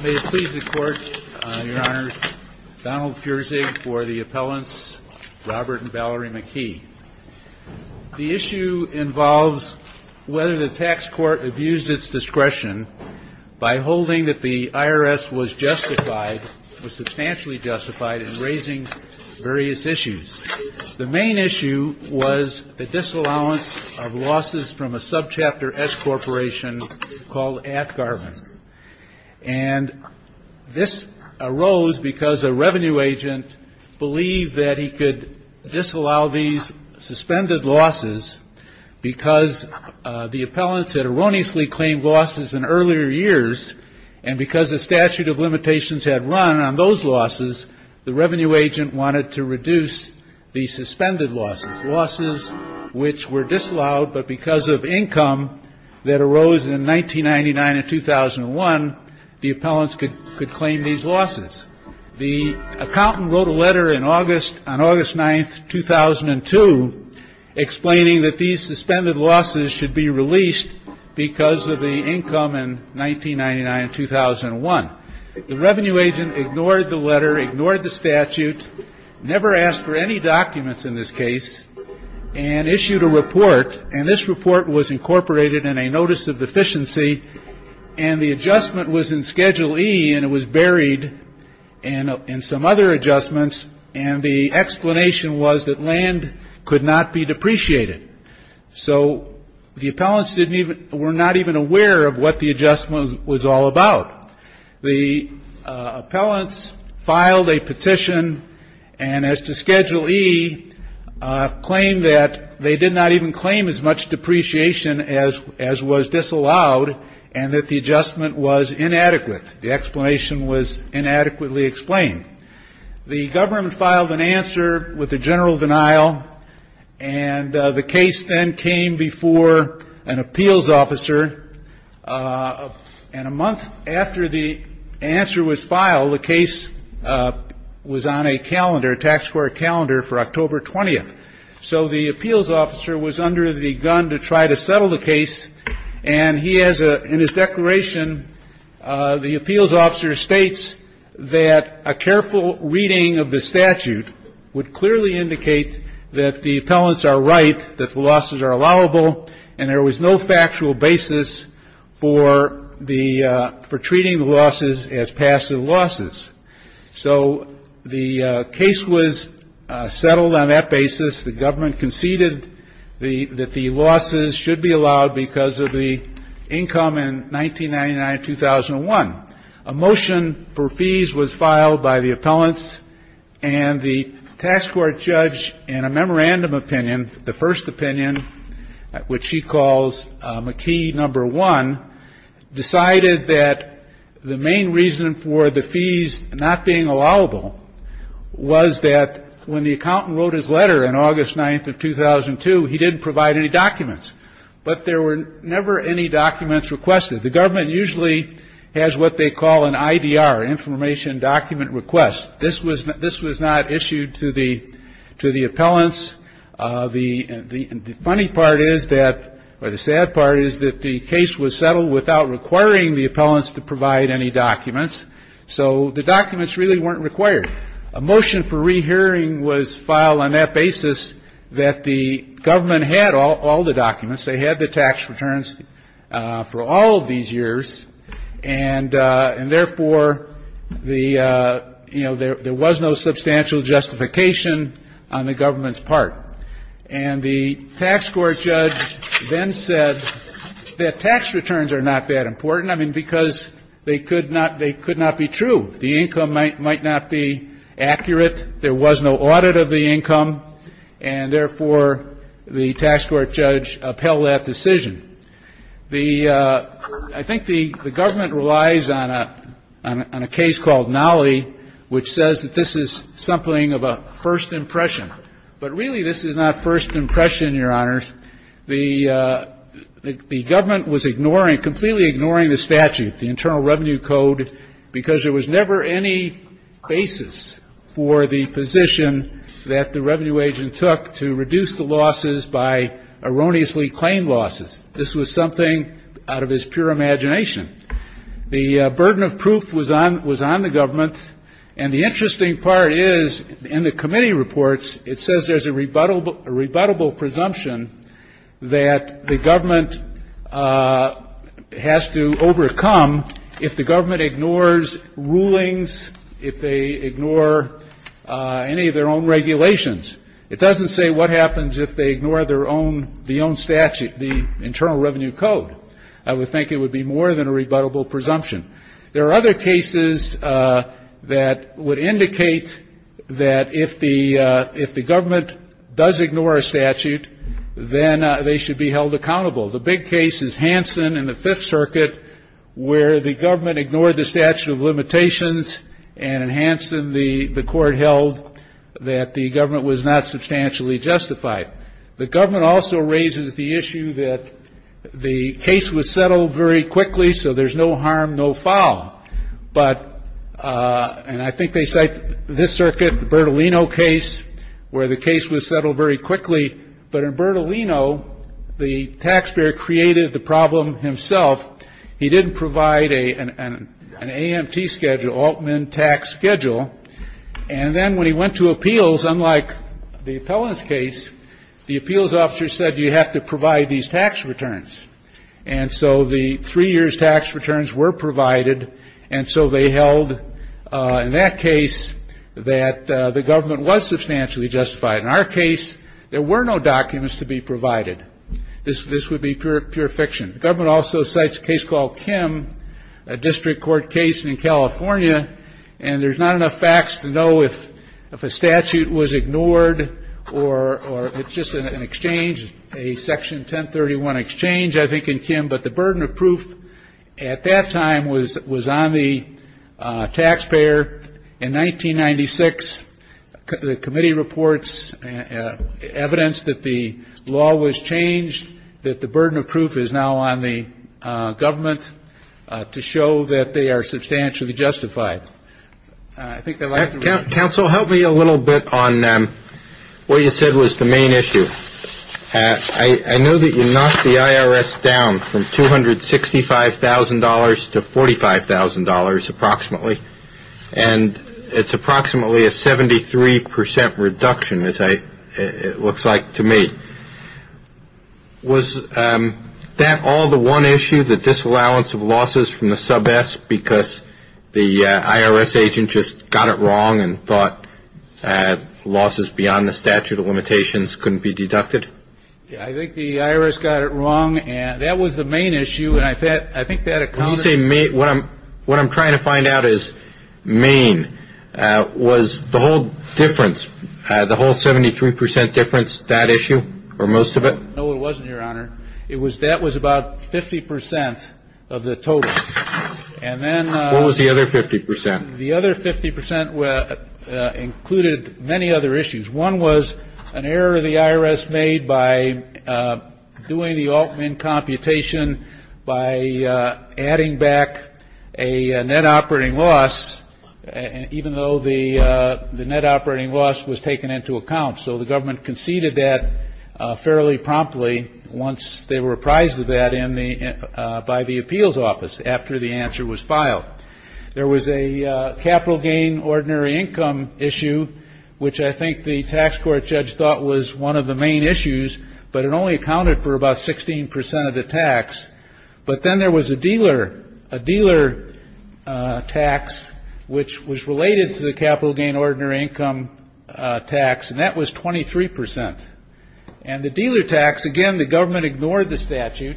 May it please the court, your honors, Donald Furzig for the appellants Robert and Valerie McKee. The issue involves whether the tax court abused its discretion by holding that the IRS was justified, was substantially justified, in raising various issues. The main issue was the disallowance of losses from a subchapter S corporation called Athgarvin. And this arose because a revenue agent believed that he could disallow these suspended losses because the appellants had erroneously claimed losses in earlier years, and because the statute of limitations had run on those losses, the revenue agent wanted to reduce the suspended losses. Losses which were disallowed, but because of income that arose in 1999 and 2001, the appellants could claim these losses. The accountant wrote a letter on August 9, 2002, explaining that these suspended losses should be released because of the income in 1999 and 2001. The revenue agent ignored the letter, ignored the statute, never asked for any documents in this case, and issued a report. And this report was incorporated in a notice of deficiency, and the adjustment was in Schedule E, and it was buried in some other adjustments, and the explanation was that land could not be depreciated. So the appellants were not even aware of what the adjustment was all about. The appellants filed a petition, and as to Schedule E, claimed that they did not even claim as much depreciation as was disallowed, and that the adjustment was inadequate. The explanation was inadequately explained. The government filed an answer with a general denial, and the case then came before an appeals officer, and a month after the answer was filed, the case was on a calendar, a tax court calendar for October 20th. So the appeals officer was under the gun to try to settle the case, and he has a — in his declaration, the appeals officer states that a careful reading of the statute would clearly indicate that the appellants are right, that the losses are allowable, and there was no factual basis for the — for treating the losses as passive losses. So the case was settled on that basis. The government conceded that the losses should be allowed because of the income in 1999-2001. A motion for fees was filed by the appellants, and the tax court judge, in a memorandum opinion, the first opinion, which he calls McKee No. 1, decided that the main reason for the fees not being allowable was that when the accountant wrote his letter on August 9th of 2002, he didn't provide any documents. But there were never any documents requested. The government usually has what they call an IDR, information document request. This was — this was not issued to the — to the appellants. The funny part is that — or the sad part is that the case was settled without requiring the appellants to provide any documents. So the documents really weren't required. A motion for rehearing was filed on that basis that the government had all the documents. They had the tax returns for all of these years. And therefore, the — you know, there was no substantial justification on the government's part. And the tax court judge then said that tax returns are not that important. I mean, because they could not — they could not be true. The income might not be accurate. There was no audit of the income. And therefore, the tax court judge upheld that decision. The — I think the government relies on a — on a case called Nolley, which says that this is something of a first impression. But really, this is not first impression, Your Honors. The government was ignoring — completely ignoring the statute, the Internal Revenue Code, because there was never any basis for the position that the revenue agent took to reduce the losses by erroneously claimed losses. This was something out of his pure imagination. The burden of proof was on — was on the government. And the interesting part is, in the committee reports, it says there's a rebuttable — a rebuttable presumption that the government has to overcome if the government ignores rulings, if they ignore any of their own regulations. It doesn't say what happens if they ignore their own — the own statute, the Internal Revenue Code. I would think it would be more than a rebuttable presumption. There are other cases that would indicate that if the — if the government does ignore a statute, then they should be held accountable. The big case is Hansen in the Fifth Amendment. The court held that the government was not substantially justified. The government also raises the issue that the case was settled very quickly, so there's no harm, no foul. But — and I think they cite this circuit, the Bertolino case, where the case was settled very quickly. But in Bertolino, the taxpayer created the problem himself. He didn't provide an AMT schedule, Altman Tax Schedule. And then when he went to appeals, unlike the appellant's case, the appeals officer said, you have to provide these tax returns. And so the three years' tax returns were provided, and so they held, in that case, that the government was substantially justified. In our case, there were no documents to be provided. This would be pure fiction. The government also cites a case called Kim, a district court case in California, and there's not enough facts to know if a statute was ignored or — or it's just an exchange, a Section 1031 exchange, I think, in Kim. But the burden of proof at that time was — was on the taxpayer. In 1996, the committee reports evidence that the law was changed, that the burden of proof is now on the government to show that they are substantially justified. I think I'd like to — Counsel, help me a little bit on what you said was the main issue. I know that you knocked the IRS down from $265,000 to $45,000, approximately. And it's approximately a 73 percent reduction, as I — it looks like to me. Was that all the one issue, the disallowance of losses from the sub-S, because the IRS agent just got it wrong and thought losses beyond the statute of limitations couldn't be deducted? I think the IRS got it wrong, and that was the main issue. And I think that — When you say main, what I'm — what I'm trying to find out is main. Was the whole difference, the whole 73 percent difference, that issue or most of it? No, it wasn't, Your Honor. It was — that was about 50 percent of the total. And then — What was the other 50 percent? The other 50 percent included many other issues. One was an error the IRS made by doing the getting back a net operating loss, even though the net operating loss was taken into account. So the government conceded that fairly promptly once they were apprised of that in the — by the appeals office, after the answer was filed. There was a capital gain ordinary income issue, which I think the tax court judge thought was one of the main issues, but it only accounted for about 16 percent of the tax. But then there was a dealer — a dealer tax, which was related to the capital gain ordinary income tax, and that was 23 percent. And the dealer tax — again, the government ignored the statute.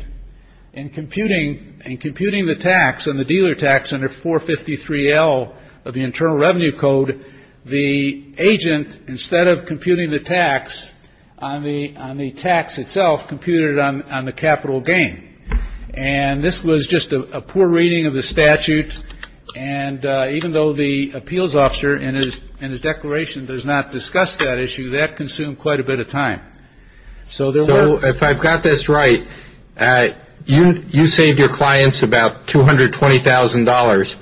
In computing — in computing the tax on the dealer tax under 453L of the Internal Revenue Code, the agent, instead of computing the tax on the — on the tax itself, computed it on the capital gain. And this was just a poor reading of the statute, and even though the appeals officer in his declaration does not discuss that issue, that consumed quite a bit of time. So there were — So if I've got this right, you — you saved your clients about $220,000.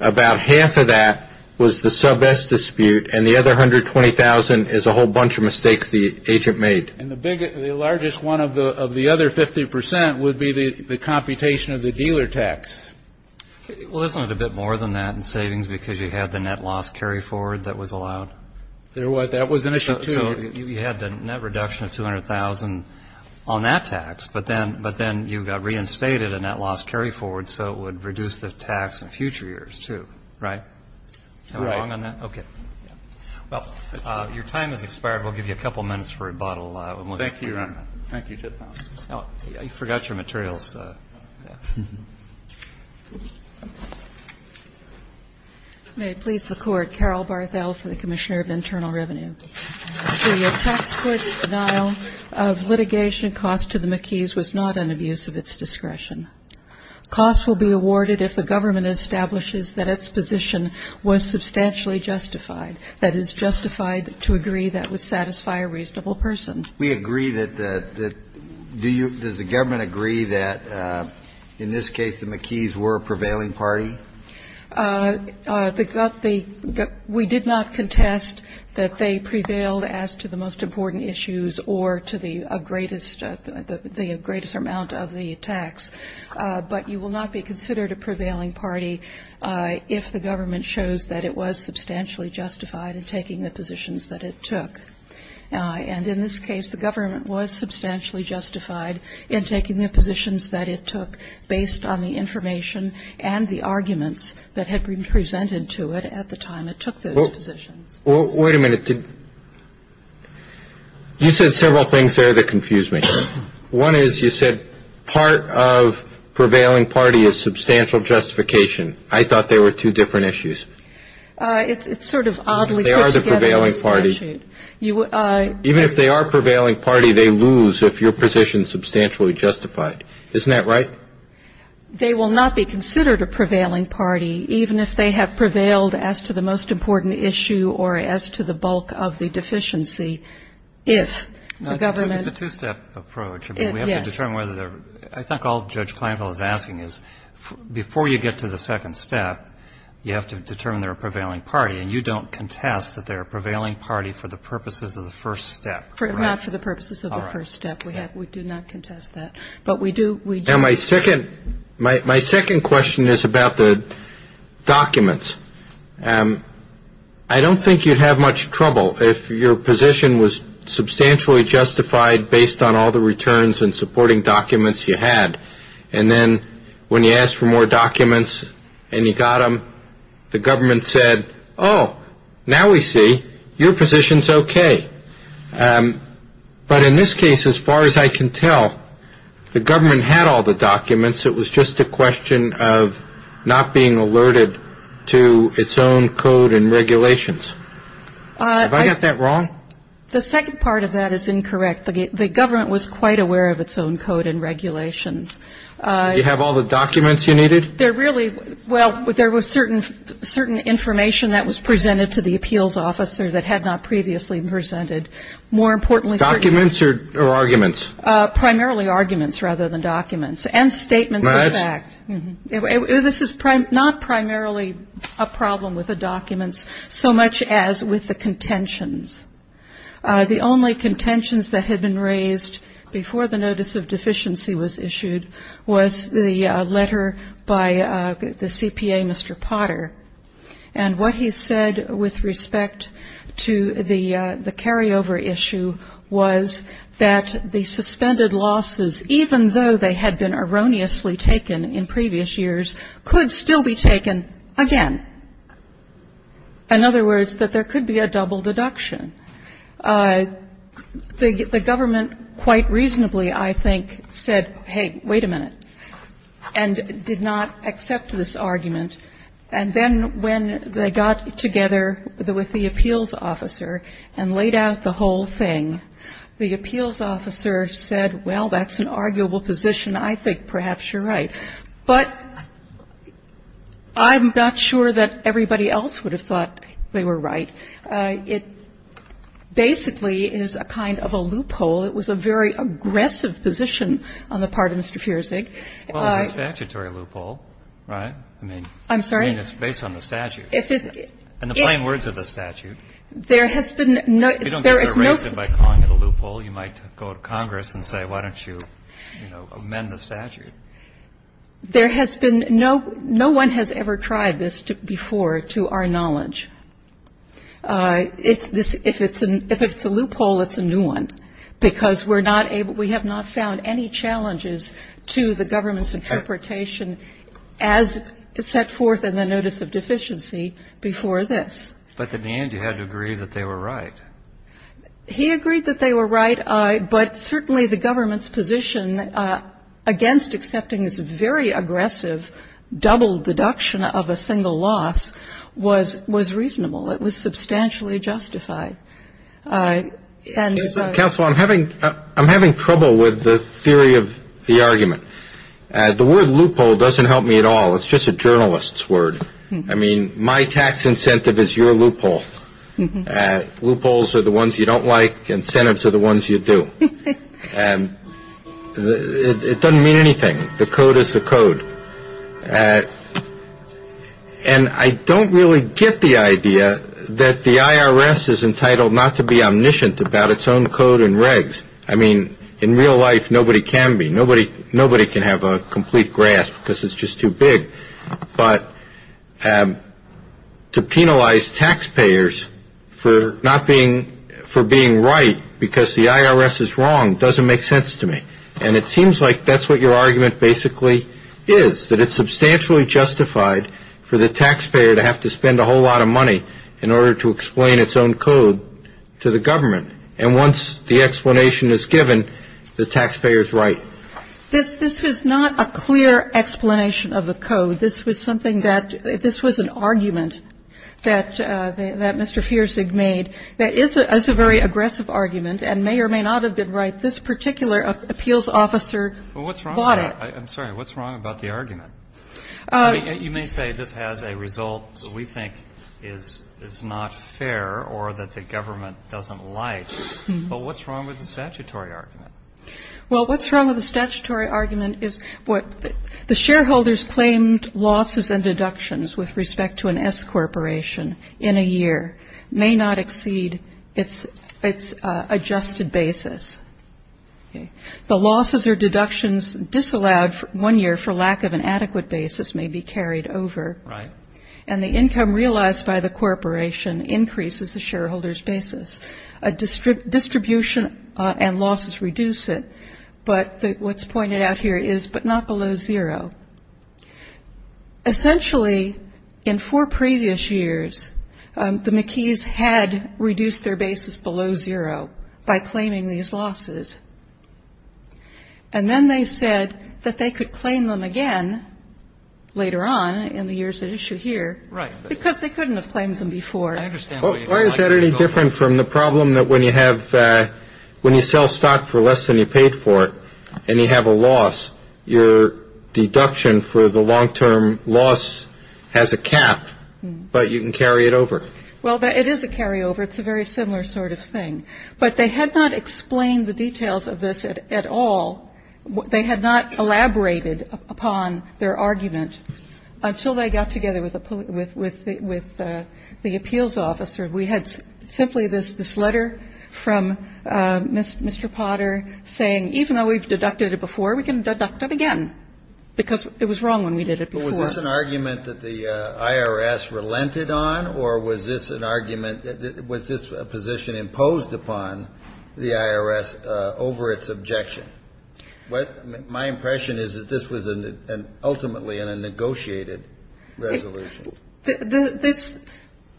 About half of that was the sub S dispute, and the other $120,000 is a whole bunch of mistakes the agent made. And the big — the largest one of the — of the other 50 percent would be the computation of the dealer tax. Well, isn't it a bit more than that in savings, because you had the net loss carryforward that was allowed? There was — that was an issue, too. So you had the net reduction of $200,000 on that tax, but then — but then you got reinstated a net loss carryforward, so it would reduce the tax in future years, too. Right? Right. Am I wrong on that? Okay. Well, your time has expired. We'll give you a couple minutes for rebuttal. Thank you, Your Honor. Thank you. I forgot your materials. May it please the Court. Carol Barthel for the Commissioner of Internal Revenue. To your tax court's denial of litigation, cost to the McKees was not an abuse of its discretion. Cost will be awarded if the government establishes that its position was substantially justified, that is, justified to agree that would satisfy a reasonable person. We agree that the — that — do you — does the government agree that, in this case, the McKees were a prevailing party? The — we did not contest that they prevailed as to the most important issues or to the greatest — the greatest amount of the tax. But you will not be considered a prevailing party if the government shows that it was substantially justified in taking the positions that it took. And in this case, the government was substantially justified in taking the positions that it took based on the information and the arguments that had been presented to it at the time it took those positions. Well, wait a minute. Did — you said several things there that confused me. One is, you said part of prevailing party is substantial justification. I thought they were two different issues. It's sort of oddly put together. They are the prevailing party. You — Even if they are prevailing party, they lose if your position is substantially justified. Isn't that right? They will not be considered a prevailing party, even if they have prevailed as to the most important issue or as to the bulk of the deficiency, if the government — It's a two-step approach. Yes. I mean, we have to determine whether they're — I think all Judge Kleinfeld is asking is, before you get to the second step, you have to determine they're a prevailing party. And you don't contest that they're a prevailing party for the purposes of the first step, right? Not for the purposes of the first step. All right. We have — we do not contest that. But we do — Now, my second — my second question is about the documents. I don't think you'd have much trouble if your position was substantially justified based on all the returns and supporting documents you had. And then when you asked for more documents and you got them, the government said, oh, now we see. Your position's okay. But in this case, as far as I can tell, the government had all the documents. It was just a question of not being alerted to its own code and regulations. Have I got that wrong? The second part of that is incorrect. The government was quite aware of its own code and regulations. You have all the documents you needed? There really — well, there was certain information that was presented to the appeals officer that had not previously been presented. More importantly — Documents or arguments? Primarily arguments rather than documents. And statements of fact. This is not primarily a problem with the documents so much as with the contentions. The only contentions that had been raised before the notice of deficiency was issued was the letter by the CPA, Mr. Potter. And what he said with respect to the carryover issue was that the suspended losses, even though they had been erroneously taken in previous years, could still be taken again. In other words, that there could be a double deduction. The government quite reasonably, I think, said, hey, wait a minute, and did not accept this argument. And then when they got together with the appeals officer and laid out the whole thing, the appeals officer said, well, that's an arguable position. I think perhaps you're right. But I'm not sure that everybody else would have thought they were right. It basically is a kind of a loophole. It was a very aggressive position on the part of Mr. Feersig. Well, it's a statutory loophole, right? I'm sorry? I mean, it's based on the statute. If it — In the plain words of the statute. There has been no — If you don't get to erase it by calling it a loophole, you might go to Congress and say, why don't you, you know, amend the statute? There has been no — no one has ever tried this before, to our knowledge. If it's a loophole, it's a new one, because we're not able — we have not found any challenges to the government's interpretation as set forth in the notice of deficiency before this. But in the end, you had to agree that they were right. He agreed that they were right. But certainly the government's position against accepting this very aggressive double deduction of a single loss was — was reasonable. It was substantially justified. And — Counsel, I'm having — I'm having trouble with the theory of the argument. The word loophole doesn't help me at all. It's just a journalist's word. I mean, my tax incentive is your loophole. Loopholes are the ones you don't like. Incentives are the ones you do. It doesn't mean anything. The code is the code. And I don't really get the idea that the IRS is entitled not to be omniscient about its own code and regs. I mean, in real life, nobody can be. Nobody — nobody can have a complete grasp because it's just too big. But to penalize taxpayers for not being — for being right because the IRS is wrong doesn't make sense to me. And it seems like that's what your argument basically is, that it's substantially justified for the taxpayer to have to spend a whole lot of money in order to explain its own code to the government. And once the explanation is given, the taxpayer is right. This is not a clear explanation of the code. This was something that — this was an argument that Mr. Feersig made that is a very aggressive argument and may or may not have been right. This particular appeals officer bought it. I'm sorry. What's wrong about the argument? You may say this has a result that we think is not fair or that the government doesn't like. But what's wrong with the statutory argument? Well, what's wrong with the statutory argument is what the shareholders claimed losses and deductions with respect to an S corporation in a year may not exceed its adjusted basis. The losses or deductions disallowed for one year for lack of an adequate basis may be carried over. Right. And the income realized by the corporation increases the shareholder's basis. Distribution and losses reduce it. But what's pointed out here is but not below zero. Essentially, in four previous years, the McKees had reduced their basis below zero by claiming these losses. And then they said that they could claim them again later on in the years at issue here because they couldn't have claimed them before. Why is that any different from the problem that when you have when you sell stock for less than you paid for it and you have a loss, your deduction for the long term loss has a cap, but you can carry it over? Well, it is a carryover. It's a very similar sort of thing. But they had not explained the details of this at all. They had not elaborated upon their argument until they got together with the appeals officer. We had simply this letter from Mr. Potter saying even though we've deducted it before, we can deduct it again because it was wrong when we did it before. But was this an argument that the IRS relented on or was this an argument that was this a position imposed upon the IRS over its objection? My impression is that this was ultimately a negotiated resolution.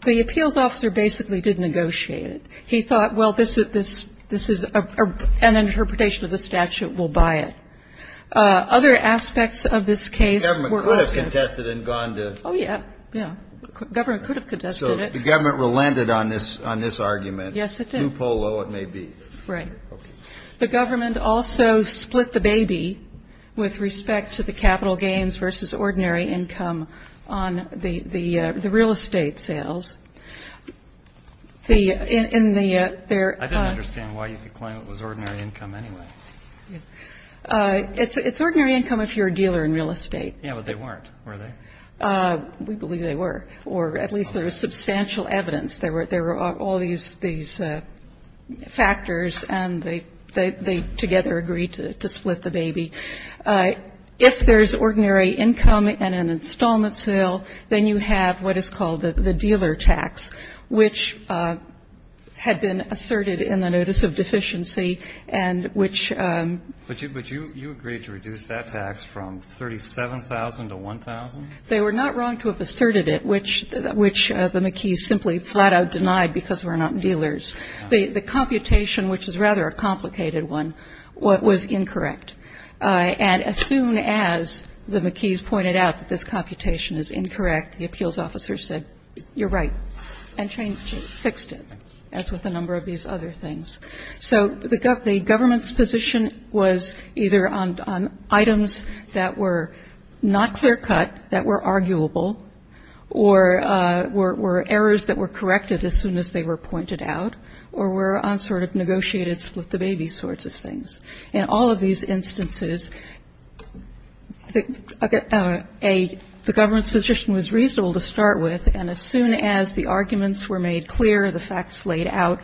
The appeals officer basically did negotiate it. He thought, well, this is an interpretation of the statute. We'll buy it. Other aspects of this case were also ---- The government could have contested and gone to ---- Oh, yeah. Yeah. The government could have contested it. So the government relented on this argument. Yes, it did. Blue polo it may be. Right. The government also split the baby with respect to the capital gains versus ordinary income on the real estate sales. In the ---- I don't understand why you could claim it was ordinary income anyway. It's ordinary income if you're a dealer in real estate. Yeah, but they weren't, were they? We believe they were, or at least there was substantial evidence. There were all these factors and they together agreed to split the baby. If there's ordinary income and an installment sale, then you have what is called the dealer tax, which had been asserted in the notice of deficiency and which ---- But you agreed to reduce that tax from $37,000 to $1,000? They were not wrong to have asserted it, which the McKees simply flat-out denied because we're not dealers. The computation, which is rather a complicated one, was incorrect. And as soon as the McKees pointed out that this computation is incorrect, the appeals officer said, you're right, and changed it, fixed it, as with a number of these other things. So the government's position was either on items that were not clear-cut, that were arguable, or were errors that were corrected as soon as they were pointed out, or were on sort of negotiated split the baby sorts of things. In all of these instances, the government's position was reasonable to start with, and as soon as the arguments were made clear, the facts laid out,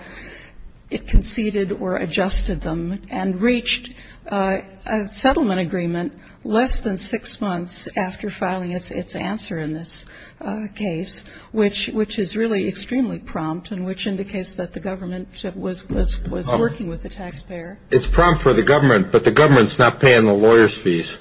it conceded or adjusted them and reached a settlement agreement less than six months after filing its answer in this case, which is really extremely prompt and which indicates that the government was working with the taxpayer. It's prompt for the government, but the government's not paying the lawyers' fees.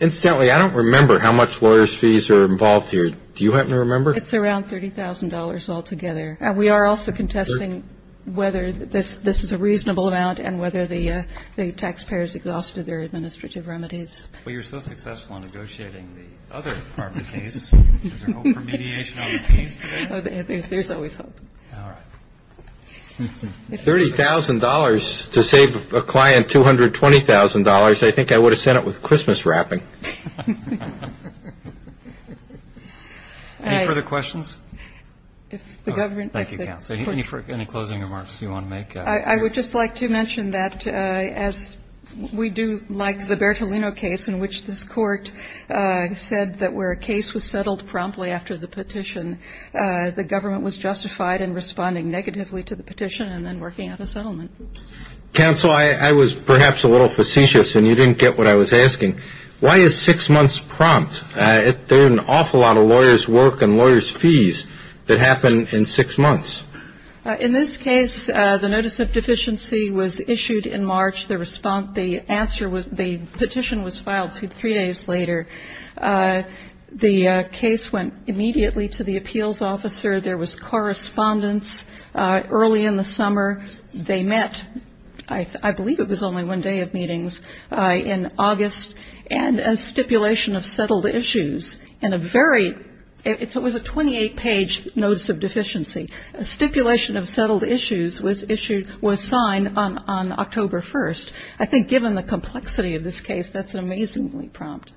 Incidentally, I don't remember how much lawyers' fees are involved here. Do you happen to remember? It's around $30,000 altogether. And we are also contesting whether this is a reasonable amount and whether the taxpayers exhausted their administrative remedies. Well, you're so successful in negotiating the other part of the case. Is there hope for mediation on the case today? There's always hope. All right. $30,000 to save a client $220,000. I think I would have sent it with Christmas wrapping. Any further questions? Thank you, counsel. Any closing remarks you want to make? I would just like to mention that as we do like the Bertolino case in which this court said that where a case was settled promptly after the petition, the government was justified in responding negatively to the petition and then working out a settlement. Counsel, I was perhaps a little facetious and you didn't get what I was asking. Why is six months prompt? There are an awful lot of lawyers' work and lawyers' fees that happen in six months. In this case, the notice of deficiency was issued in March. The petition was filed three days later. The case went immediately to the appeals officer. There was correspondence early in the summer. They met, I believe it was only one day of meetings, in August. And a stipulation of settled issues in a very, it was a 28-page notice of deficiency. A stipulation of settled issues was signed on October 1st. I think given the complexity of this case, that's an amazingly prompt.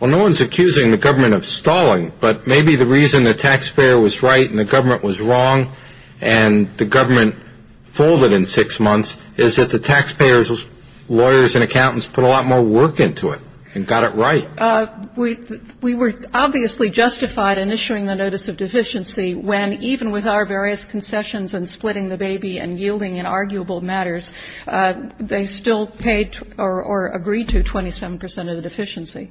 Well, no one's accusing the government of stalling, but maybe the reason the taxpayer was right and the government was wrong and the government folded in six months is that the taxpayers, lawyers and accountants put a lot more work into it and got it right. We were obviously justified in issuing the notice of deficiency when even with our various concessions and splitting the baby and yielding in arguable matters, they still paid or agreed to 27 percent of the deficiency.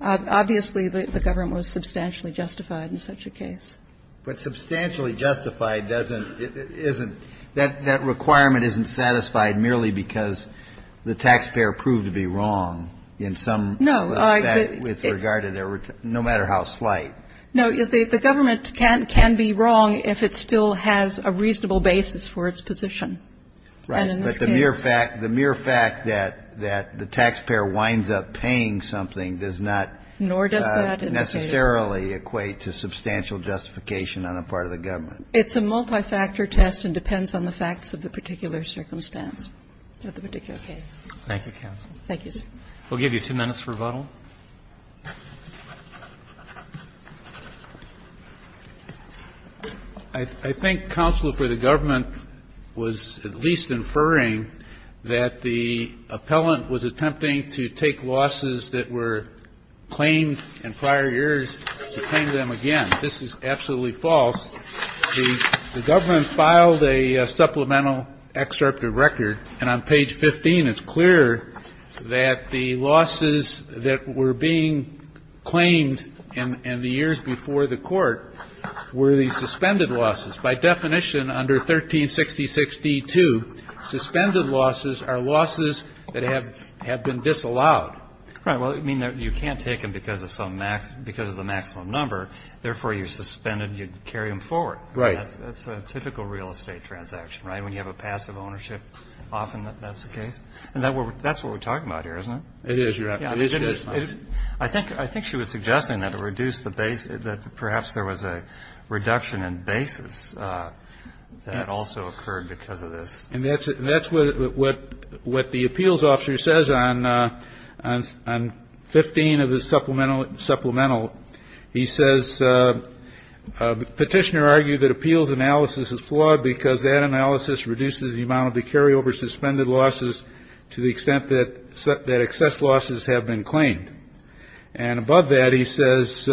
Obviously, the government was substantially justified in such a case. But substantially justified doesn't, isn't, that requirement isn't satisfied merely because the taxpayer proved to be wrong in some respect with regard to their, no matter how slight. No. The government can be wrong if it still has a reasonable basis for its position. Right. But the mere fact that the taxpayer winds up paying something does not. Nor does that indicate. Necessarily equate to substantial justification on the part of the government. It's a multi-factor test and depends on the facts of the particular circumstance of the particular case. Thank you, counsel. Thank you, sir. We'll give you two minutes for rebuttal. I think counsel for the government was at least inferring that the appellant was attempting to take losses that were claimed in prior years to claim them again. This is absolutely false. The government filed a supplemental excerpt of record. And on page 15, it's clear that the losses that were being claimed in the years before the court were the suspended losses. By definition, under 1360.62, suspended losses are losses that have been disallowed. Right. Well, you can't take them because of the maximum number. Therefore, you suspended. You'd carry them forward. Right. That's a typical real estate transaction, right, when you have a passive ownership. Often that's the case. That's what we're talking about here, isn't it? It is. It is. I think she was suggesting that it reduced the base, that perhaps there was a reduction in basis that also occurred because of this. And that's what the appeals officer says on 15 of the supplemental. He says, Petitioner argued that appeals analysis is flawed because that analysis reduces the amount of the carryover suspended losses to the extent that excess losses have been claimed. And above that, he says,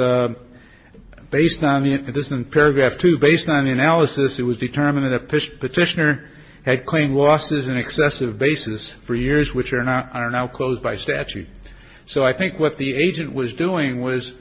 based on the, this is in paragraph two, based on the analysis, it was determined that a petitioner had claimed losses in excessive basis for years, which are now closed by statute. So I think what the agent was doing was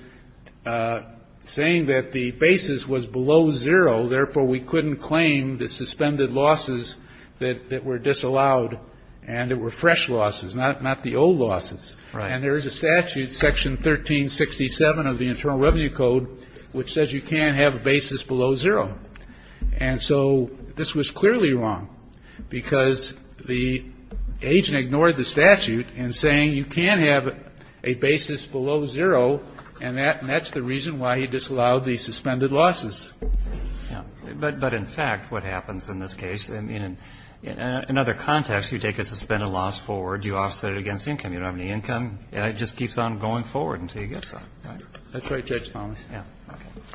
saying that the basis was below zero. Therefore, we couldn't claim the suspended losses that were disallowed. And it were fresh losses, not the old losses. And there is a statute, section 1367 of the Internal Revenue Code, which says you can't have a basis below zero. And so this was clearly wrong because the agent ignored the statute in saying you can't have a basis below zero. And that's the reason why he disallowed the suspended losses. But in fact, what happens in this case, I mean, in another context, you take a suspended loss forward, you offset it against income. You don't have any income. And it just keeps on going forward until you get something. That's right, Judge Thomas. Yeah.